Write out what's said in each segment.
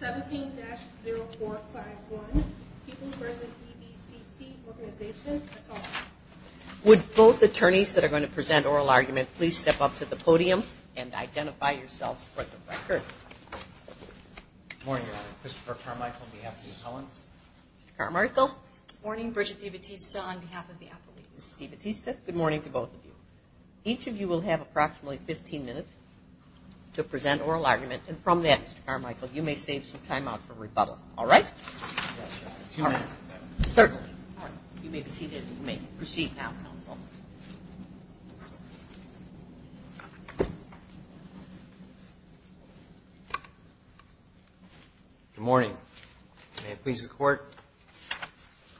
17-0451, People v. DBCC Organization. That's all. Would both attorneys that are going to present oral argument please step up to the podium and identify yourselves for the record. Good morning, Your Honor. Christopher Carmichael on behalf of the appellants. Mr. Carmichael. Good morning. Brigitte Batista on behalf of the appellate. Ms. Batista, good morning to both of you. Each of you will have approximately 15 minutes to present oral argument. And from that, Mr. Carmichael, you may save some time out for rebuttal. All right? Yes, Your Honor. Two minutes. Certainly. All right. You may be seated. You may proceed now, counsel. Good morning. May it please the Court,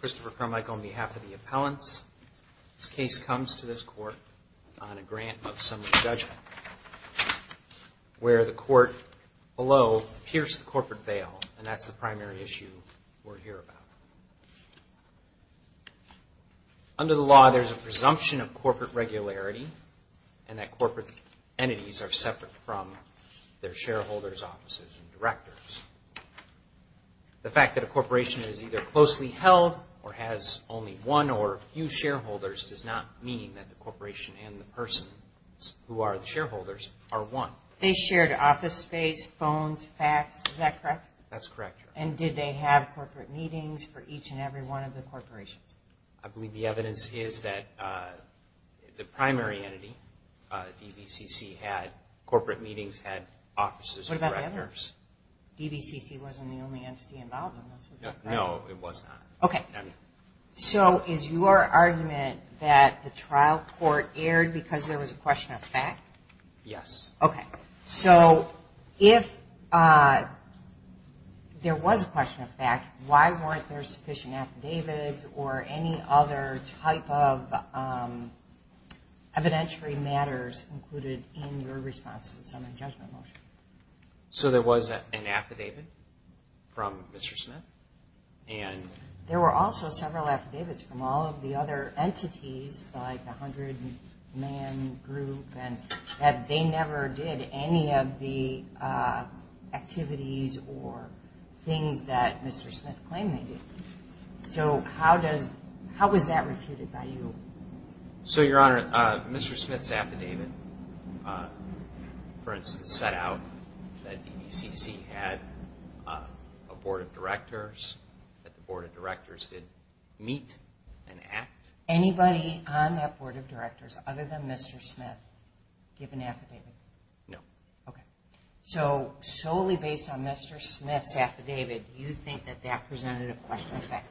Christopher Carmichael on behalf of the appellants. This case comes to this Court on a grant of summary judgment where the Court below pierced the corporate veil, and that's the primary issue we'll hear about. Under the law, there's a presumption of corporate regularity and that corporate entities are separate from their shareholders, offices, and directors. The fact that a corporation is either closely held or has only one or a few shareholders does not mean that the corporation and the person who are the shareholders are one. They shared office space, phones, fax. Is that correct? That's correct, Your Honor. And did they have corporate meetings for each and every one of the corporations? I believe the evidence is that the primary entity, DVCC, had corporate meetings, had offices and directors. What about the others? DVCC wasn't the only entity involved in this. Is that correct? No, it was not. Okay. So is your argument that the trial court erred because there was a question of fact? Yes. Okay. So if there was a question of fact, why weren't there sufficient affidavits or any other type of evidentiary matters included in your response to the summary judgment motion? So there was an affidavit from Mr. Smith and... There were also several affidavits from all of the other entities, like the 100-man group, and they never did any of the activities or things that Mr. Smith claimed they did. So how was that refuted by you? So, Your Honor, Mr. Smith's affidavit, for instance, set out that DVCC had a board of directors, that the board of directors did meet and act. Anybody on that board of directors other than Mr. Smith give an affidavit? No. Okay. So solely based on Mr. Smith's affidavit, do you think that that presented a question of fact?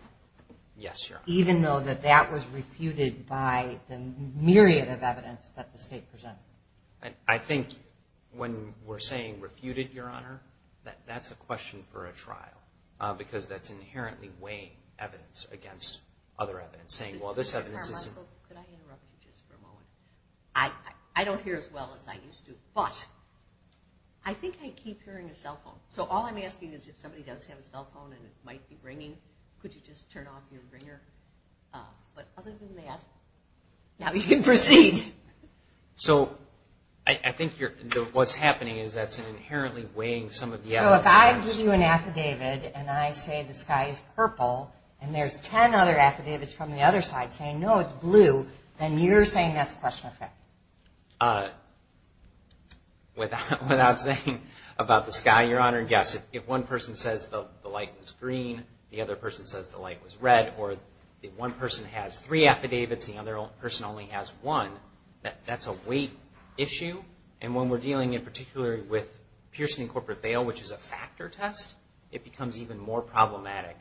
Yes, Your Honor. Even though that that was refuted by the myriad of evidence that the state presented? I think when we're saying refuted, Your Honor, that's a question for a trial because that's inherently weighing evidence against other evidence, saying, well, this evidence isn't... Mr. Carmichael, could I interrupt you just for a moment? I don't hear as well as I used to, but I think I keep hearing a cell phone. So all I'm asking is if somebody does have a cell phone and it might be ringing, could you just turn off your ringer? But other than that, now you can proceed. So I think what's happening is that's inherently weighing some of the evidence against... So if I give you an affidavit and I say the sky is purple and there's 10 other affidavits from the other side saying, no, it's blue, then you're saying that's question of fact? Without saying about the sky, Your Honor, yes. If one person says the light was green, the other person says the light was red, or if one person has three affidavits and the other person only has one, that's a weight issue. And when we're dealing in particular with Pierson and Corporate Bail, which is a factor test, it becomes even more problematic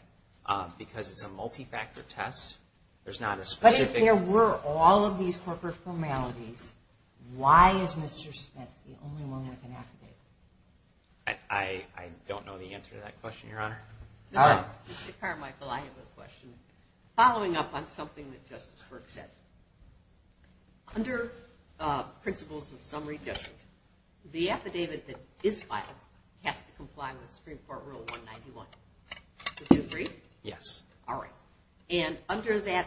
because it's a multi-factor test. But if there were all of these corporate formalities, why is Mr. Smith the only one with an affidavit? I don't know the answer to that question, Your Honor. Mr. Carmichael, I have a question. Following up on something that Justice Burke said, under principles of summary judgment, the affidavit that is filed has to comply with Supreme Court Rule 191. Would you agree? Yes. All right. And under that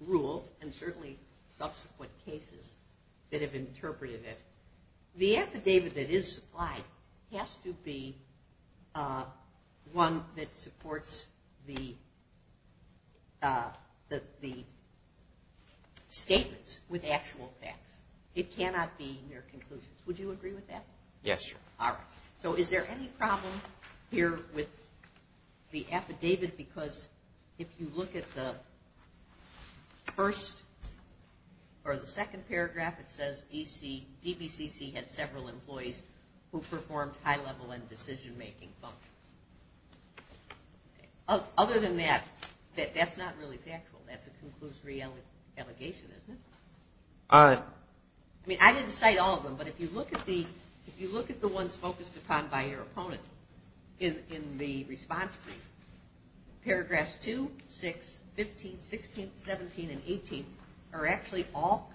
rule, and certainly subsequent cases that have interpreted it, the affidavit that is supplied has to be one that supports the statements with actual facts. It cannot be mere conclusions. Would you agree with that? Yes, Your Honor. All right. So is there any problem here with the affidavit? Because if you look at the first or the second paragraph, it says DBCC had several employees who performed high-level and decision-making functions. Other than that, that's not really factual. That's a conclusory allegation, isn't it? I didn't cite all of them, but if you look at the ones focused upon by your opponent in the response brief, paragraphs 2, 6, 15, 16, 17, and 18 are actually all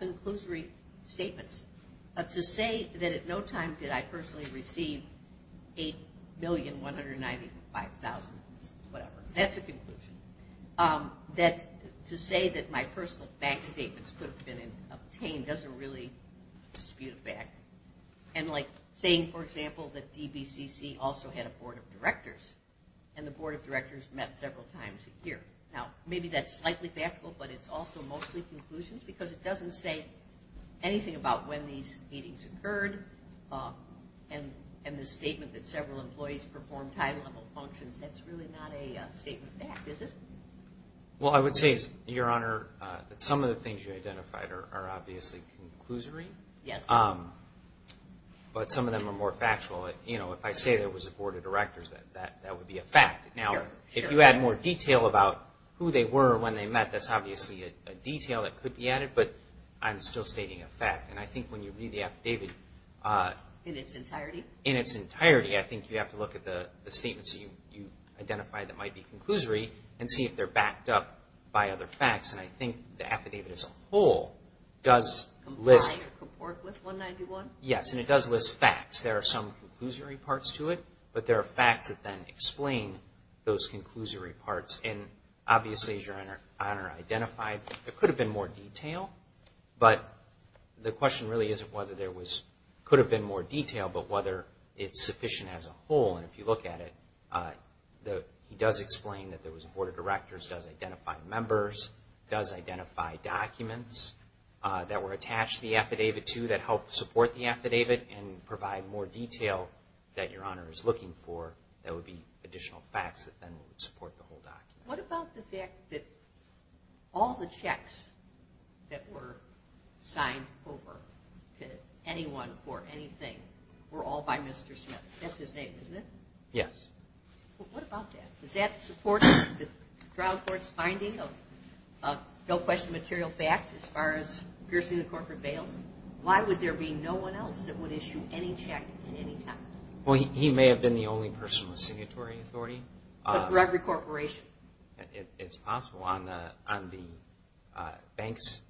And, like, saying, for example, that DBCC also had a board of directors and the board of directors met several times a year. Now, maybe that's slightly factual, but it's also mostly conclusions because it doesn't say anything about when these meetings occurred and the statement that several employees performed high-level functions. That's really not a statement of fact, is it? Well, I would say, Your Honor, that some of the things you identified are obviously conclusory, but some of them are more factual. You know, if I say there was a board of directors, that would be a fact. Now, if you add more detail about who they were and when they met, that's obviously a detail that could be added, but I'm still stating a fact. And I think when you read the affidavit... In its entirety? In its entirety. I think you have to look at the statements that you identified that might be conclusory and see if they're backed up by other facts. And I think the affidavit as a whole does list... Comply or comport with 191? Yes, and it does list facts. There are some conclusory parts to it, but there are facts that then explain those conclusory parts. And, obviously, as Your Honor identified, there could have been more detail, but the question really isn't whether there was... Whether it's sufficient as a whole. And if you look at it, he does explain that there was a board of directors, does identify members, does identify documents that were attached to the affidavit to that helped support the affidavit and provide more detail that Your Honor is looking for that would be additional facts that then would support the whole document. What about the fact that all the checks that were signed over to anyone for anything were all by Mr. Smith? That's his name, isn't it? Yes. Well, what about that? Does that support the trial court's finding of no question material backed as far as piercing the corporate bail? Why would there be no one else that would issue any check at any time? Well, he may have been the only person with signatory authority. But for every corporation? It's possible. On the bank's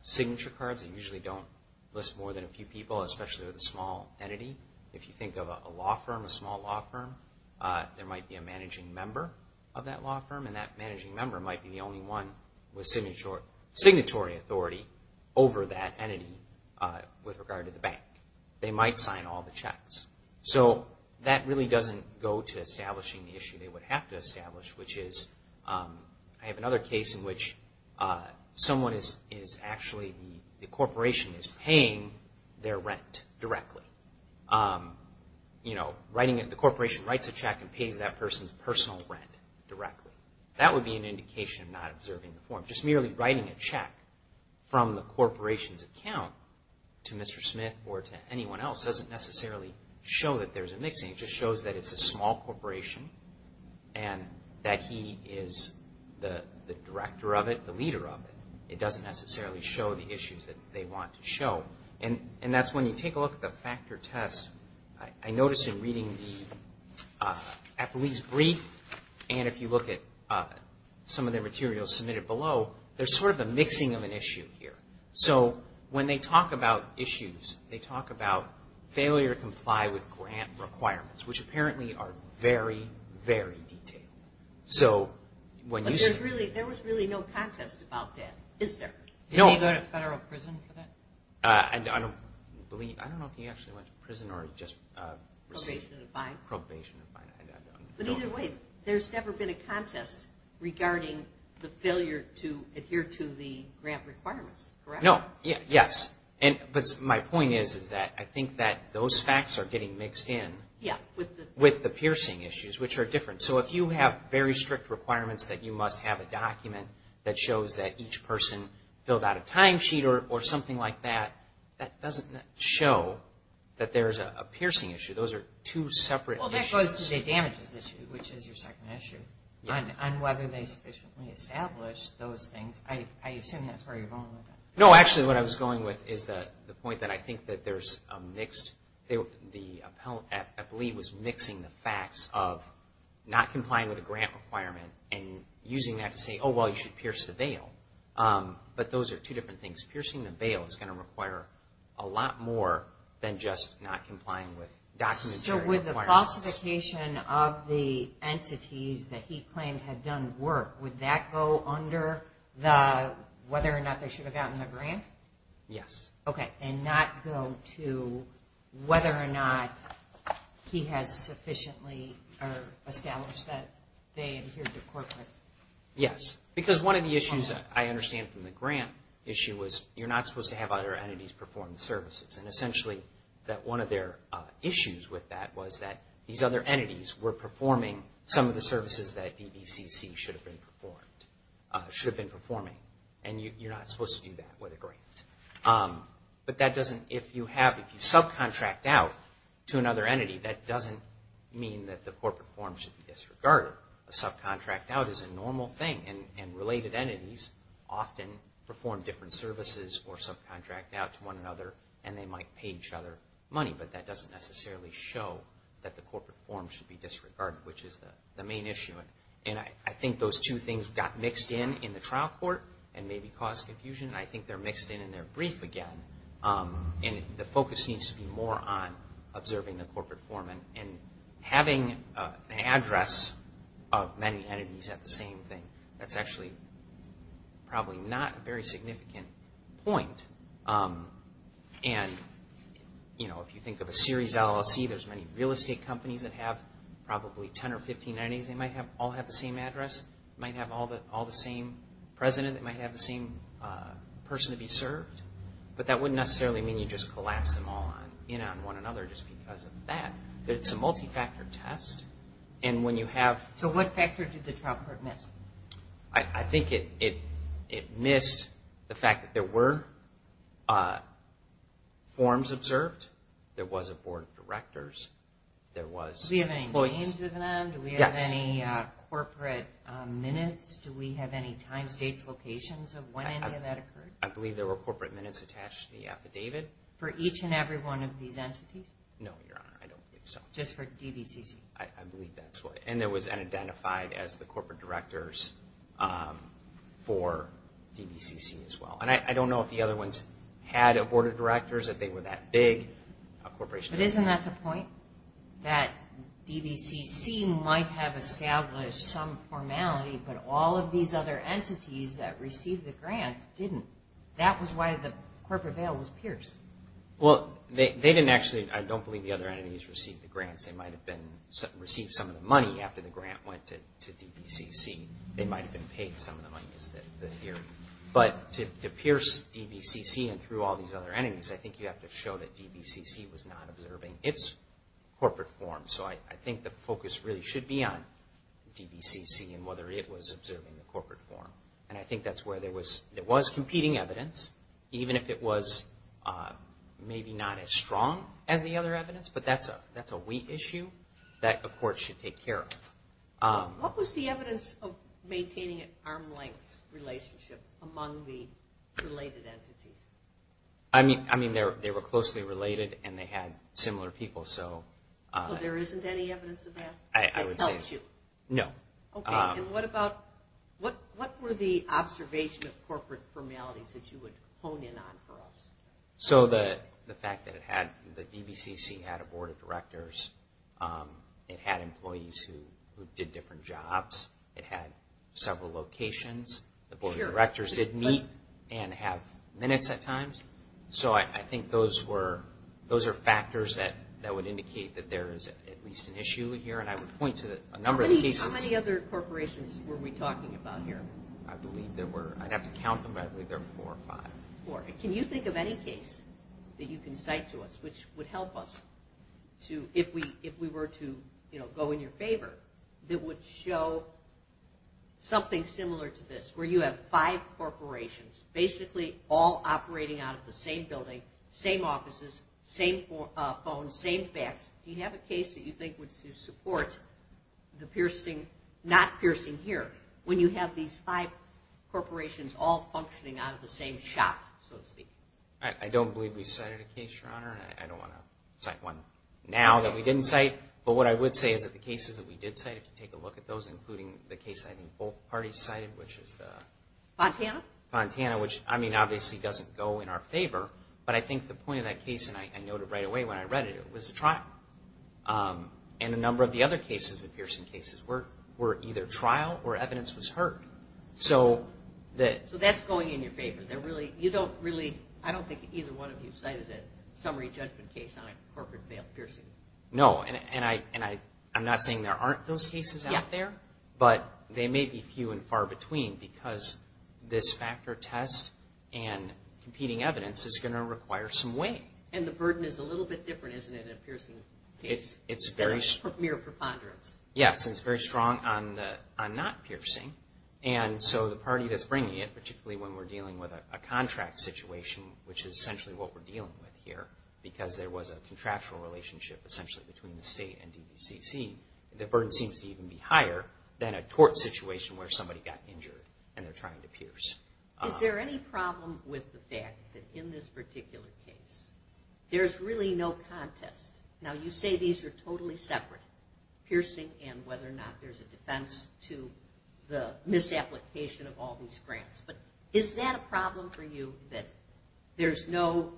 signature cards, they usually don't list more than a few people, especially with a small entity. If you think of a law firm, a small law firm, there might be a managing member of that law firm, and that managing member might be the only one with signatory authority over that entity with regard to the bank. They might sign all the checks. So that really doesn't go to establishing the issue they would have to establish, which is I have another case in which the corporation is paying their rent directly. The corporation writes a check and pays that person's personal rent directly. That would be an indication of not observing the form. Just merely writing a check from the corporation's account to Mr. Smith or to anyone else doesn't necessarily show that there's a mixing. It just shows that it's a small corporation and that he is the director of it, the leader of it. It doesn't necessarily show the issues that they want to show. And that's when you take a look at the factor test. I noticed in reading the appellee's brief and if you look at some of the materials submitted below, there's sort of a mixing of an issue here. So when they talk about issues, they talk about failure to comply with grant requirements, which apparently are very, very detailed. But there was really no contest about that, is there? No. Did he go to federal prison for that? I don't know if he actually went to prison or just received probation and fine. But either way, there's never been a contest regarding the failure to adhere to the grant requirements, correct? No. Yes. But my point is that I think that those facts are getting mixed in with the piercing issues, which are different. So if you have very strict requirements that you must have a document that shows that each person filled out a time sheet or something like that, that doesn't show that there's a piercing issue. Those are two separate issues. Well, that goes to the damages issue, which is your second issue, on whether they sufficiently established those things. I assume that's where you're going with that. No, actually, what I was going with is the point that I think that there's a mixed – the appellee was mixing the facts of not complying with a grant requirement and using that to say, oh, well, you should pierce the bail. But those are two different things. Piercing the bail is going to require a lot more than just not complying with documentary requirements. So with the falsification of the entities that he claimed had done work, would that go under the whether or not they should have gotten the grant? Yes. Okay, and not go to whether or not he has sufficiently established that they adhered to corporate requirements. Yes, because one of the issues I understand from the grant issue was you're not supposed to have other entities perform the services. And essentially, one of their issues with that was that these other entities were performing some of the services that DBCC should have been performing. And you're not supposed to do that with a grant. But that doesn't – if you subcontract out to another entity, that doesn't mean that the corporate form should be disregarded. A subcontract out is a normal thing. And related entities often perform different services or subcontract out to one another, and they might pay each other money. But that doesn't necessarily show that the corporate form should be disregarded, which is the main issue. And I think those two things got mixed in in the trial court and maybe caused confusion. I think they're mixed in in their brief again. And the focus needs to be more on observing the corporate form. And having an address of many entities at the same thing, that's actually probably not a very significant point. And if you think of a series LLC, there's many real estate companies that have probably 10 or 15 entities. They might all have the same address. They might have all the same president. They might have the same person to be served. But that wouldn't necessarily mean you just collapse them all in on one another just because of that. It's a multi-factor test. And when you have – So what factors did the trial court miss? I think it missed the fact that there were forms observed. There was a board of directors. There was – Do we have any names of them? Yes. Do we have any corporate minutes? Do we have any time, states, locations of when any of that occurred? I believe there were corporate minutes attached to the affidavit. For each and every one of these entities? No, Your Honor. I don't think so. Just for DBCC? I believe that's what – And it was identified as the corporate directors for DBCC as well. And I don't know if the other ones had a board of directors, if they were that big. But isn't that the point, that DBCC might have established some formality, but all of these other entities that received the grant didn't? That was why the corporate bail was pierced. Well, they didn't actually – I don't believe the other entities received the grants. They might have received some of the money after the grant went to DBCC. They might have been paid some of the money, is the theory. I think you have to show that DBCC was not observing its corporate form. So I think the focus really should be on DBCC and whether it was observing the corporate form. And I think that's where there was competing evidence, even if it was maybe not as strong as the other evidence. But that's a wheat issue that the court should take care of. What was the evidence of maintaining an arm's-length relationship among the related entities? I mean, they were closely related and they had similar people. So there isn't any evidence of that? I would say no. Okay, and what were the observation of corporate formalities that you would hone in on for us? So the fact that the DBCC had a board of directors, it had employees who did different jobs, it had several locations, the board of directors did meet and have minutes at times. So I think those are factors that would indicate that there is at least an issue here. And I would point to a number of cases. How many other corporations were we talking about here? I'd have to count them. I believe there were four or five. Four. Can you think of any case that you can cite to us which would help us if we were to go in your favor that would show something similar to this where you have five corporations basically all operating out of the same building, same offices, same phone, same fax. Do you have a case that you think would support the piercing, not piercing here, when you have these five corporations all functioning out of the same shop, so to speak? I don't believe we've cited a case, Your Honor. I don't want to cite one now that we didn't cite. But what I would say is that the cases that we did cite, if you take a look at those, including the case I think both parties cited, which is the- Fontana? Fontana, which, I mean, obviously doesn't go in our favor. But I think the point of that case, and I noted right away when I read it, it was a trial. And a number of the other cases, the piercing cases, were either trial or evidence was heard. So that's going in your favor. You don't really, I don't think either one of you cited a summary judgment case on a corporate piercing. No. And I'm not saying there aren't those cases out there, but they may be few and far between because this factor test and competing evidence is going to require some weight. And the burden is a little bit different, isn't it, in a piercing case? It's very- Mere preponderance. Yes, and it's very strong on not piercing. And so the party that's bringing it, particularly when we're dealing with a contract situation, which is essentially what we're dealing with here, because there was a contractual relationship essentially between the state and DVCC, the burden seems to even be higher than a tort situation where somebody got injured and they're trying to pierce. Is there any problem with the fact that in this particular case there's really no contest? Now, you say these are totally separate, piercing and whether or not there's a defense to the misapplication of all these grants. But is that a problem for you, that there's no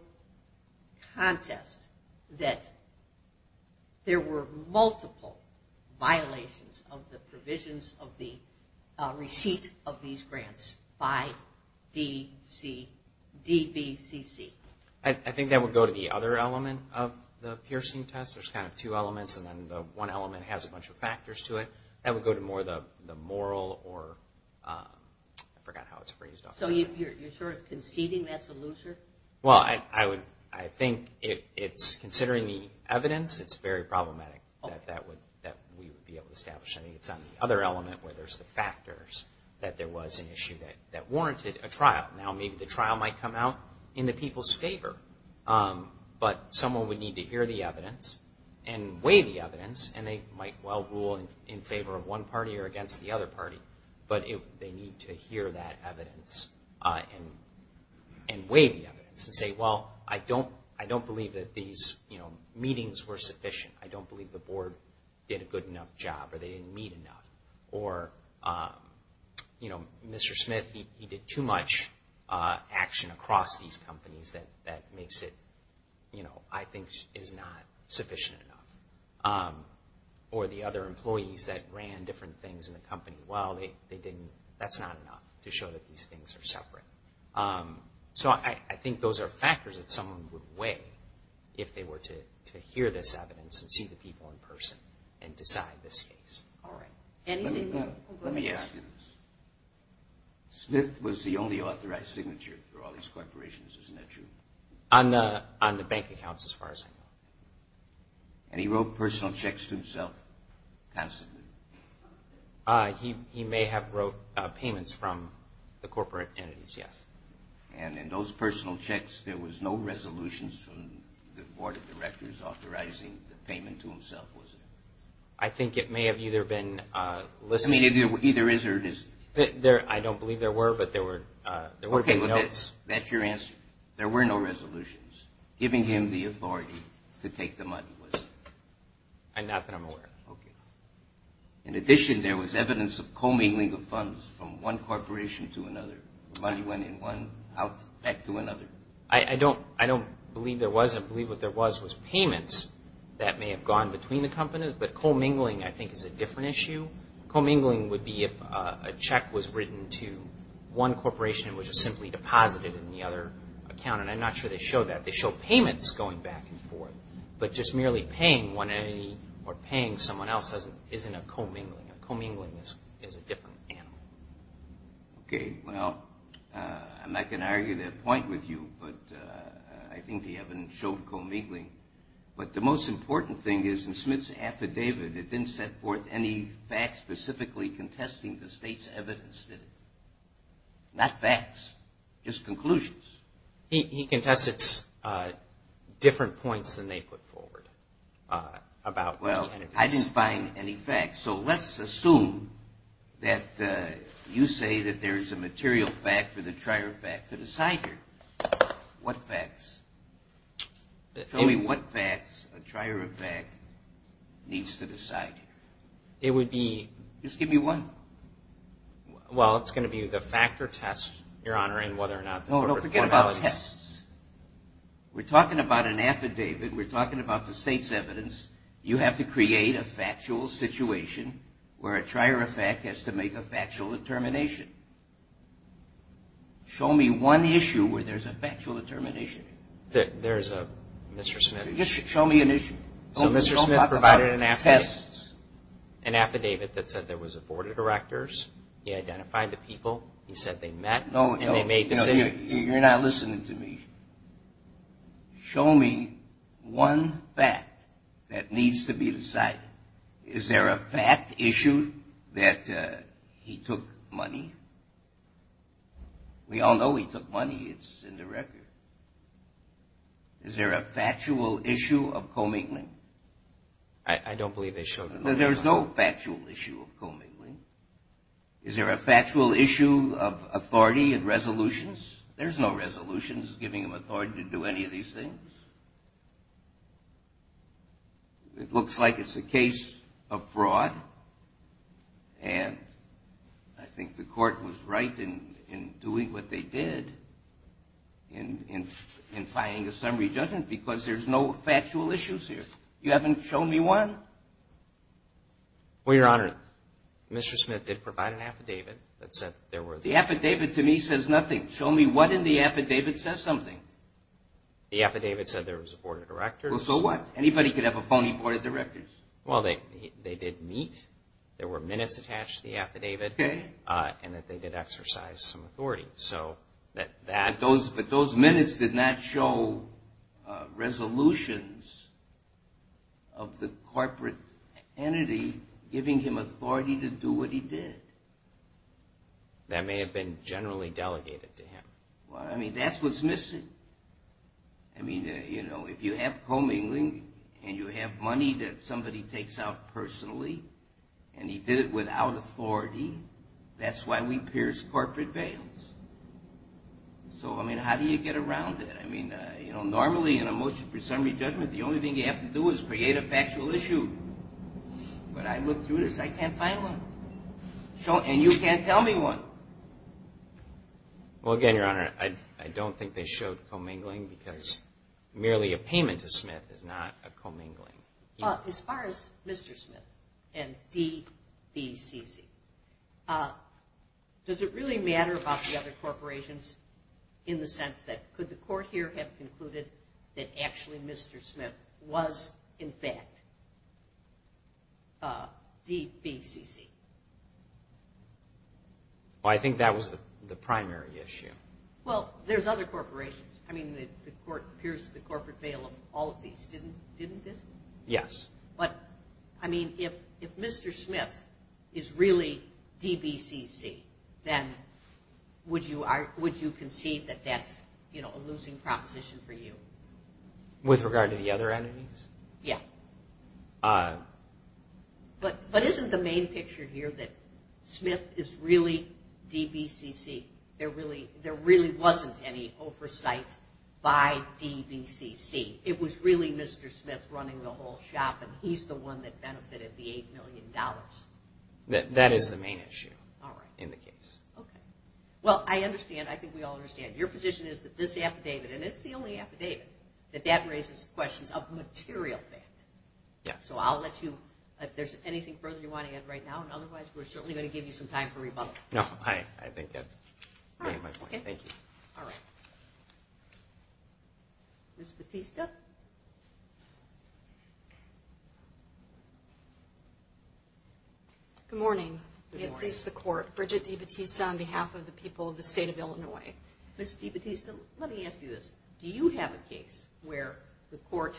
contest that there were multiple violations of the provisions of the receipt of these grants by DVCC? I think that would go to the other element of the piercing test. There's kind of two elements, and then the one element has a bunch of factors to it. That would go to more the moral or, I forgot how it's phrased. So you're sort of conceding that's a loser? Well, I think considering the evidence, it's very problematic that we would be able to establish. I think it's on the other element where there's the factors that there was an issue that warranted a trial. Now, maybe the trial might come out in the people's favor, but someone would need to hear the evidence and weigh the evidence, and they might well rule in favor of one party or against the other party. But they need to hear that evidence and weigh the evidence and say, well, I don't believe that these meetings were sufficient. I don't believe the board did a good enough job or they didn't meet enough. Or, you know, Mr. Smith, he did too much action across these companies that makes it, you know, I think is not sufficient enough. Or the other employees that ran different things in the company, well, they didn't. That's not enough to show that these things are separate. So I think those are factors that someone would weigh if they were to hear this evidence and see the people in person and decide this case. All right. Let me ask you this. Smith was the only authorized signature for all these corporations, isn't that true? On the bank accounts, as far as I know. And he wrote personal checks to himself constantly? He may have wrote payments from the corporate entities, yes. And in those personal checks, there was no resolutions from the board of directors authorizing the payment to himself, was there? I think it may have either been listed. I mean, either is or isn't. I don't believe there were, but there were no. Okay. That's your answer? There were no resolutions. Giving him the authority to take the money was? Not that I'm aware of. Okay. In addition, there was evidence of commingling of funds from one corporation to another. Money went in one, out, back to another. I don't believe there was. I believe what there was was payments that may have gone between the companies. But commingling, I think, is a different issue. Commingling would be if a check was written to one corporation and was just simply deposited in the other account. And I'm not sure they show that. They show payments going back and forth. But just merely paying one entity or paying someone else isn't a commingling. A commingling is a different animal. Okay. Well, I'm not going to argue that point with you, but I think the evidence showed commingling. But the most important thing is in Smith's affidavit, it didn't set forth any facts specifically contesting the state's evidence, did it? Not facts, just conclusions. He contested different points than they put forward about the entities. Well, I didn't find any facts. So let's assume that you say that there is a material fact for the trier of fact to decide here. What facts? Tell me what facts a trier of fact needs to decide here. It would be – Just give me one. Well, it's going to be the fact or test, Your Honor, in whether or not – No, no, forget about tests. We're talking about an affidavit. We're talking about the state's evidence. You have to create a factual situation where a trier of fact has to make a factual determination. Show me one issue where there's a factual determination. There's a – Mr. Smith – Just show me an issue. So Mr. Smith provided an affidavit – Don't talk about tests. An affidavit that said there was a board of directors. He identified the people. He said they met and they made decisions. No, no, you're not listening to me. Show me one fact that needs to be decided. Is there a fact issue that he took money? We all know he took money. It's in the record. Is there a factual issue of commingling? I don't believe there's – There's no factual issue of commingling. Is there a factual issue of authority and resolutions? There's no resolutions giving him authority to do any of these things. It looks like it's a case of fraud. And I think the court was right in doing what they did in finding a summary judgment because there's no factual issues here. You haven't shown me one. Well, Your Honor, Mr. Smith did provide an affidavit that said there were – The affidavit to me says nothing. Show me what in the affidavit says something. The affidavit said there was a board of directors. Well, so what? Anybody could have a phony board of directors. Well, they did meet. There were minutes attached to the affidavit. Okay. And that they did exercise some authority. But those minutes did not show resolutions of the corporate entity giving him authority to do what he did. That may have been generally delegated to him. Well, I mean, that's what's missing. I mean, you know, if you have commingling and you have money that somebody takes out personally and he did it without authority, that's why we pierce corporate veils. So, I mean, how do you get around that? I mean, you know, normally in a motion for summary judgment, the only thing you have to do is create a factual issue. But I looked through this. I can't find one. And you can't tell me one. Well, again, Your Honor, I don't think they showed commingling because merely a payment to Smith is not a commingling. As far as Mr. Smith and DBCC, does it really matter about the other corporations in the sense that could the court here have concluded that actually Mr. Smith was, in fact, DBCC? Well, I think that was the primary issue. Well, there's other corporations. I mean, the court pierced the corporate veil of all of these, didn't it? Yes. But, I mean, if Mr. Smith is really DBCC, then would you concede that that's a losing proposition for you? With regard to the other entities? Yeah. But isn't the main picture here that Smith is really DBCC? There really wasn't any oversight by DBCC. It was really Mr. Smith running the whole shop, and he's the one that benefited the $8 million. That is the main issue in the case. Okay. Well, I understand. I think we all understand. Your position is that this affidavit, and it's the only affidavit, that that raises questions of material value. So I'll let you, if there's anything further you want to add right now, and otherwise we're certainly going to give you some time for rebuttal. No, I think that's my point. Thank you. All right. Ms. Batista? Good morning. Good morning. At least the court. Bridget D. Batista on behalf of the people of the State of Illinois. Ms. D. Batista, let me ask you this. Do you have a case where the court,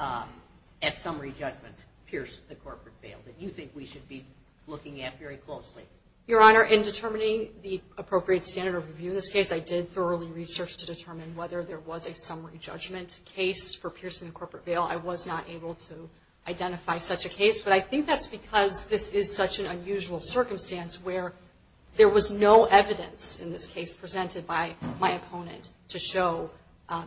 at summary judgment, pierced the corporate bail that you think we should be looking at very closely? Your Honor, in determining the appropriate standard of review in this case, I did thoroughly research to determine whether there was a summary judgment case for piercing the corporate bail. I was not able to identify such a case, but I think that's because this is such an unusual circumstance where there was no evidence in this case presented by my opponent to show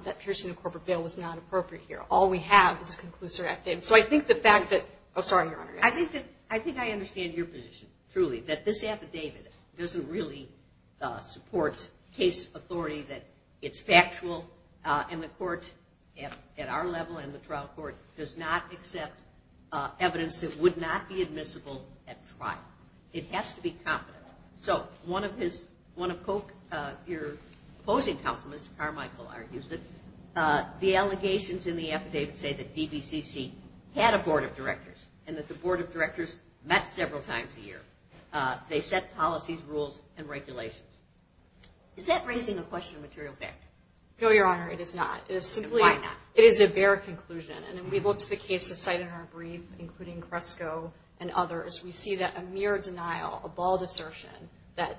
that piercing the corporate bail was not appropriate here. All we have is a conclusive affidavit. So I think the fact that – oh, sorry, Your Honor. I think I understand your position, truly, that this affidavit doesn't really support case authority, that it's factual, and the court at our level and the trial court does not accept evidence that would not be admissible at trial. It has to be confident. So one of your opposing counsel, Mr. Carmichael, argues that the allegations in the affidavit say that DBCC had a board of directors and that the board of directors met several times a year. They set policies, rules, and regulations. Is that raising a question of material factor? No, Your Honor, it is not. Why not? It is a bare conclusion, and we looked at the cases cited in our brief, including Kresko and others. We see that a mere denial, a bald assertion that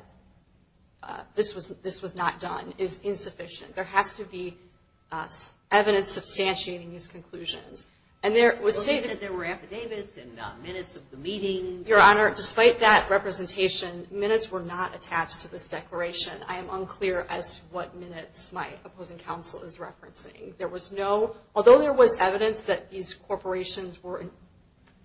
this was not done is insufficient. There has to be evidence substantiating these conclusions. Well, you said there were affidavits and minutes of the meetings. Your Honor, despite that representation, minutes were not attached to this declaration. I am unclear as to what minutes my opposing counsel is referencing. Although there was evidence that these corporations were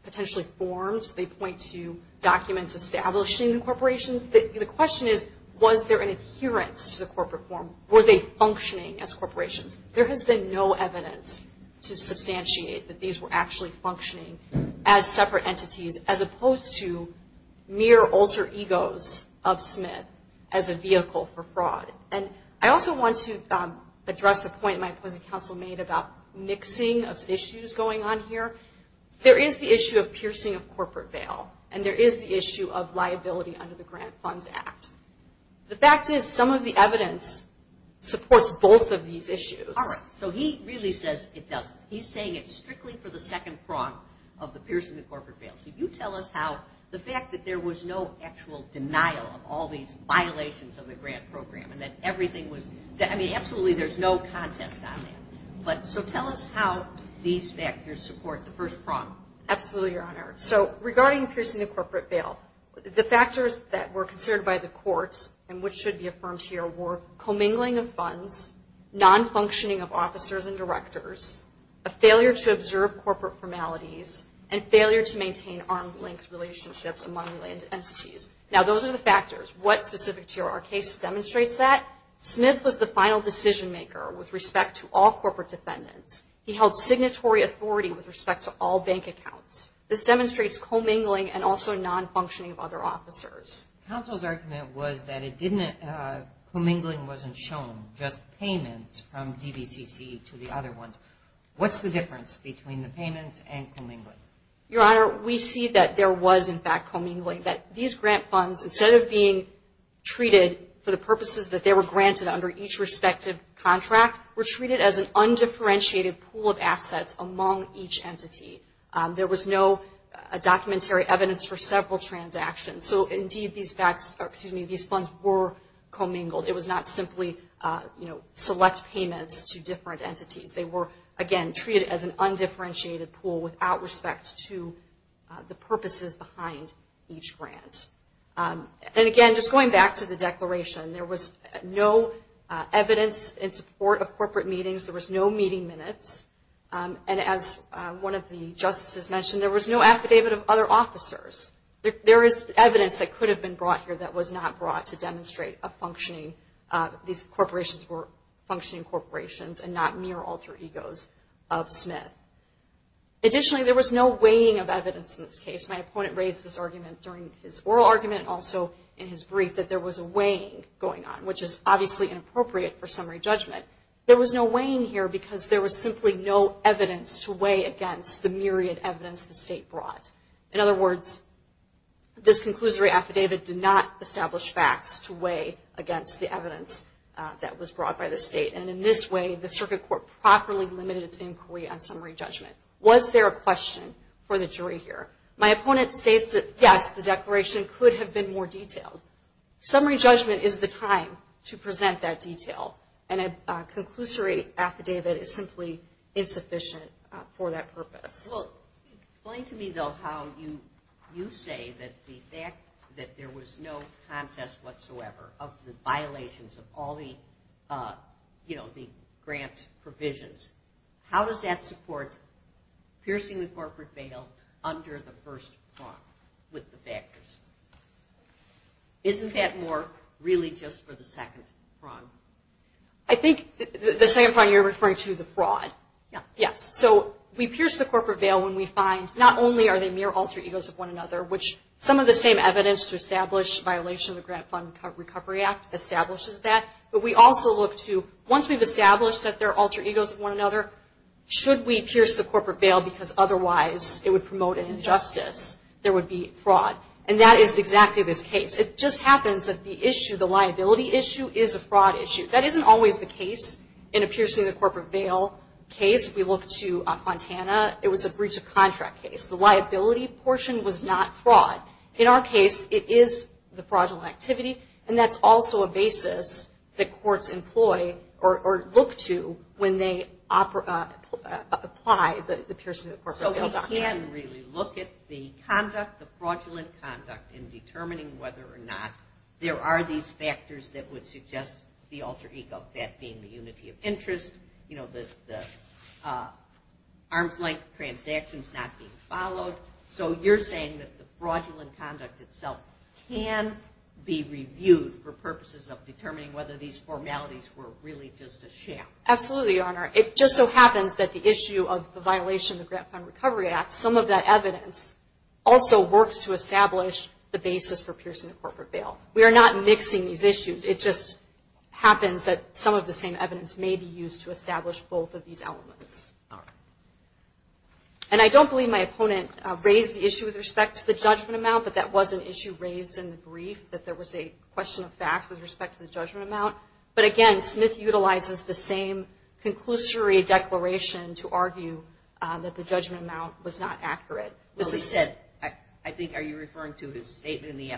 potentially formed, they point to documents establishing the corporations, the question is, was there an adherence to the corporate form? Were they functioning as corporations? There has been no evidence to substantiate that these were actually functioning as separate entities as opposed to mere alter egos of Smith as a vehicle for fraud. And I also want to address a point my opposing counsel made about mixing of issues going on here. There is the issue of piercing of corporate bail, and there is the issue of liability under the Grant Funds Act. The fact is some of the evidence supports both of these issues. All right. So he really says it doesn't. He's saying it's strictly for the second prong of the piercing of corporate bail. Could you tell us how the fact that there was no actual denial of all these violations of the grant program and that everything was – I mean, absolutely there's no contest on that. So tell us how these factors support the first prong. Absolutely, Your Honor. So regarding piercing of corporate bail, the factors that were considered by the courts and which should be affirmed here were commingling of funds, nonfunctioning of officers and directors, a failure to observe corporate formalities, and failure to maintain arm's length relationships among related entities. Now those are the factors. What specific to your case demonstrates that? Smith was the final decision maker with respect to all corporate defendants. He held signatory authority with respect to all bank accounts. This demonstrates commingling and also nonfunctioning of other officers. Counsel's argument was that commingling wasn't shown, just payments from DVCC to the other ones. What's the difference between the payments and commingling? Your Honor, we see that there was, in fact, commingling, that these grant funds, instead of being treated for the purposes that they were granted under each respective contract, were treated as an undifferentiated pool of assets among each entity. There was no documentary evidence for several transactions. So, indeed, these funds were commingled. It was not simply select payments to different entities. They were, again, treated as an undifferentiated pool without respect to the purposes behind each grant. And, again, just going back to the declaration, there was no evidence in support of corporate meetings. There was no meeting minutes. And as one of the justices mentioned, there was no affidavit of other officers. There is evidence that could have been brought here that was not brought to demonstrate a functioning, these corporations were functioning corporations and not mere alter egos of Smith. Additionally, there was no weighing of evidence in this case. My opponent raised this argument during his oral argument, also in his brief, that there was a weighing going on, which is obviously inappropriate for summary judgment. There was no weighing here because there was simply no evidence to weigh against the myriad evidence the state brought. In other words, this conclusory affidavit did not establish facts to weigh against the evidence that was brought by the state. And in this way, the Circuit Court properly limited its inquiry on summary judgment. Was there a question for the jury here? My opponent states that, yes, the declaration could have been more detailed. Summary judgment is the time to present that detail. And a conclusory affidavit is simply insufficient for that purpose. Well, explain to me, though, how you say that the fact that there was no contest whatsoever of the violations of all the, you know, the grant provisions, how does that support piercing the corporate veil under the first prong with the I think the second prong you're referring to the fraud. Yes. So we pierce the corporate veil when we find not only are they mere alter egos of one another, which some of the same evidence to establish violation of the Grant Fund Recovery Act establishes that, but we also look to, once we've established that they're alter egos of one another, should we pierce the corporate veil because otherwise it would promote an injustice, there would be fraud. And that is exactly this case. It just happens that the issue, the liability issue, is a fraud issue. That isn't always the case. In a piercing the corporate veil case, if we look to Fontana, it was a breach of contract case. The liability portion was not fraud. In our case, it is the fraudulent activity, and that's also a basis that courts employ or look to when they apply the piercing the corporate veil doctrine. So we can really look at the conduct, the fraudulent conduct, in determining whether or not there are these factors that would suggest the alter ego, that being the unity of interest, you know, the arm's length transactions not being followed. So you're saying that the fraudulent conduct itself can be reviewed for purposes of determining whether these formalities were really just a sham. Absolutely, Your Honor. It just so happens that the issue of the violation of the Grant Fund Recovery Act, some of that evidence, also works to establish the basis for piercing the corporate veil. We are not mixing these issues. It just happens that some of the same evidence may be used to establish both of these elements. All right. And I don't believe my opponent raised the issue with respect to the judgment amount, but that was an issue raised in the brief, that there was a question of fact with respect to the judgment amount. But, again, Smith utilizes the same conclusory declaration to argue that the judgment amount was not accurate. Well, he said, I think, are you referring to his statement in the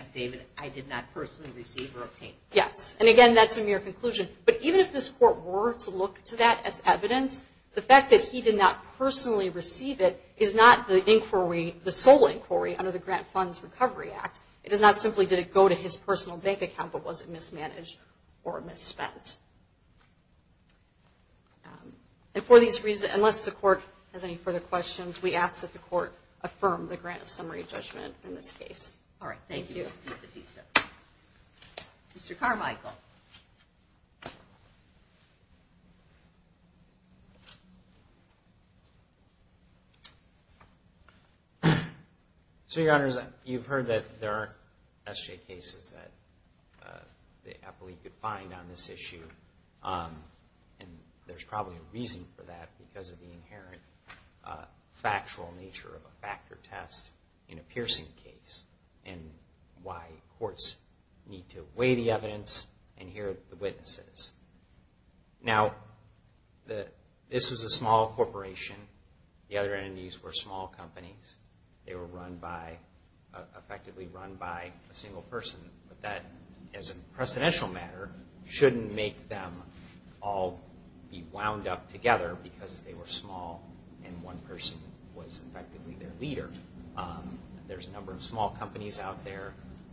Yes. And, again, that's a mere conclusion. But even if this Court were to look to that as evidence, the fact that he did not personally receive it is not the inquiry, the sole inquiry under the Grant Funds Recovery Act. It is not simply did it go to his personal bank account, but was it mismanaged or misspent. And for these reasons, unless the Court has any further questions, we ask that the Court affirm the grant of summary judgment in this case. All right. Thank you. Thank you, Mr. DiFatista. Mr. Carmichael. So, Your Honors, you've heard that there aren't SJ cases that the appellee could find on this issue. And there's probably a reason for that because of the inherent factual nature of a factor test in a piercing case. And why courts need to weigh the evidence and hear the witnesses. Now, this was a small corporation. The other entities were small companies. They were effectively run by a single person. But that, as a precedential matter, shouldn't make them all be wound up together because they were small and one person was effectively their leader. There's a number of small companies out there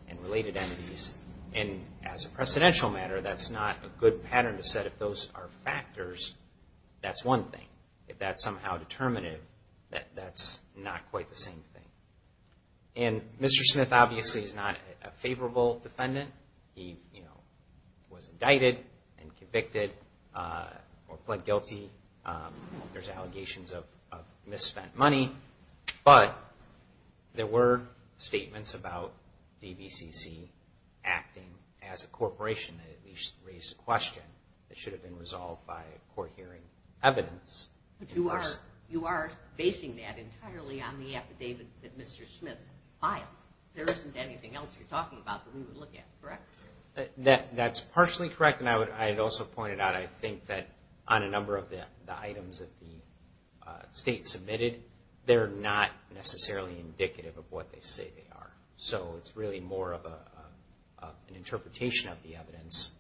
and related entities. And as a precedential matter, that's not a good pattern to set. If those are factors, that's one thing. If that's somehow determinative, that's not quite the same thing. And Mr. Smith obviously is not a favorable defendant. He was indicted and convicted or pled guilty. There's allegations of misspent money. But there were statements about DVCC acting as a corporation that at least raised a question that should have been resolved by court hearing evidence. But you are basing that entirely on the affidavit that Mr. Smith filed. There isn't anything else you're talking about that we would look at, correct? That's partially correct. And I would also point it out, I think that on a number of the items that the state submitted, they're not necessarily indicative of what they say they are. So it's really more of an interpretation of the evidence.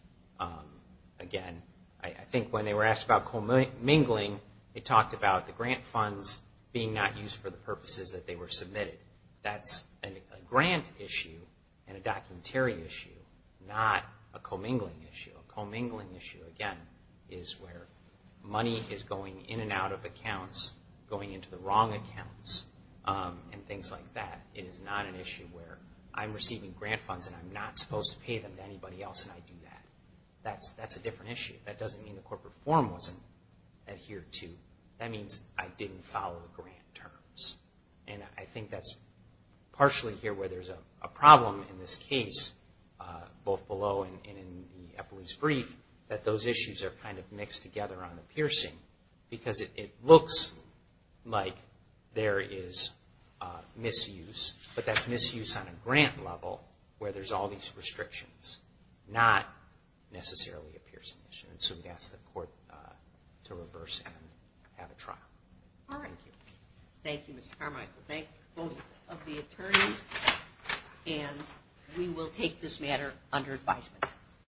Again, I think when they were asked about commingling, they talked about the grant funds being not used for the purposes that they were submitted. That's a grant issue and a documentary issue, not a commingling issue. A commingling issue, again, is where money is going in and out of accounts, going into the wrong accounts, and things like that. It is not an issue where I'm receiving grant funds and I'm not supposed to pay them to anybody else and I do that. That's a different issue. That doesn't mean the corporate forum wasn't adhered to. That means I didn't follow the grant terms. And I think that's partially here where there's a problem in this case, both below and in the Eppley's brief, that those issues are kind of mixed together on the piercing, because it looks like there is misuse, but that's misuse on a grant level where there's all these restrictions, not necessarily a piercing issue. And so we ask the court to reverse and have a trial. All right. Thank you, Mr. Carmichael. Thank both of the attorneys. And we will take this matter under advisement.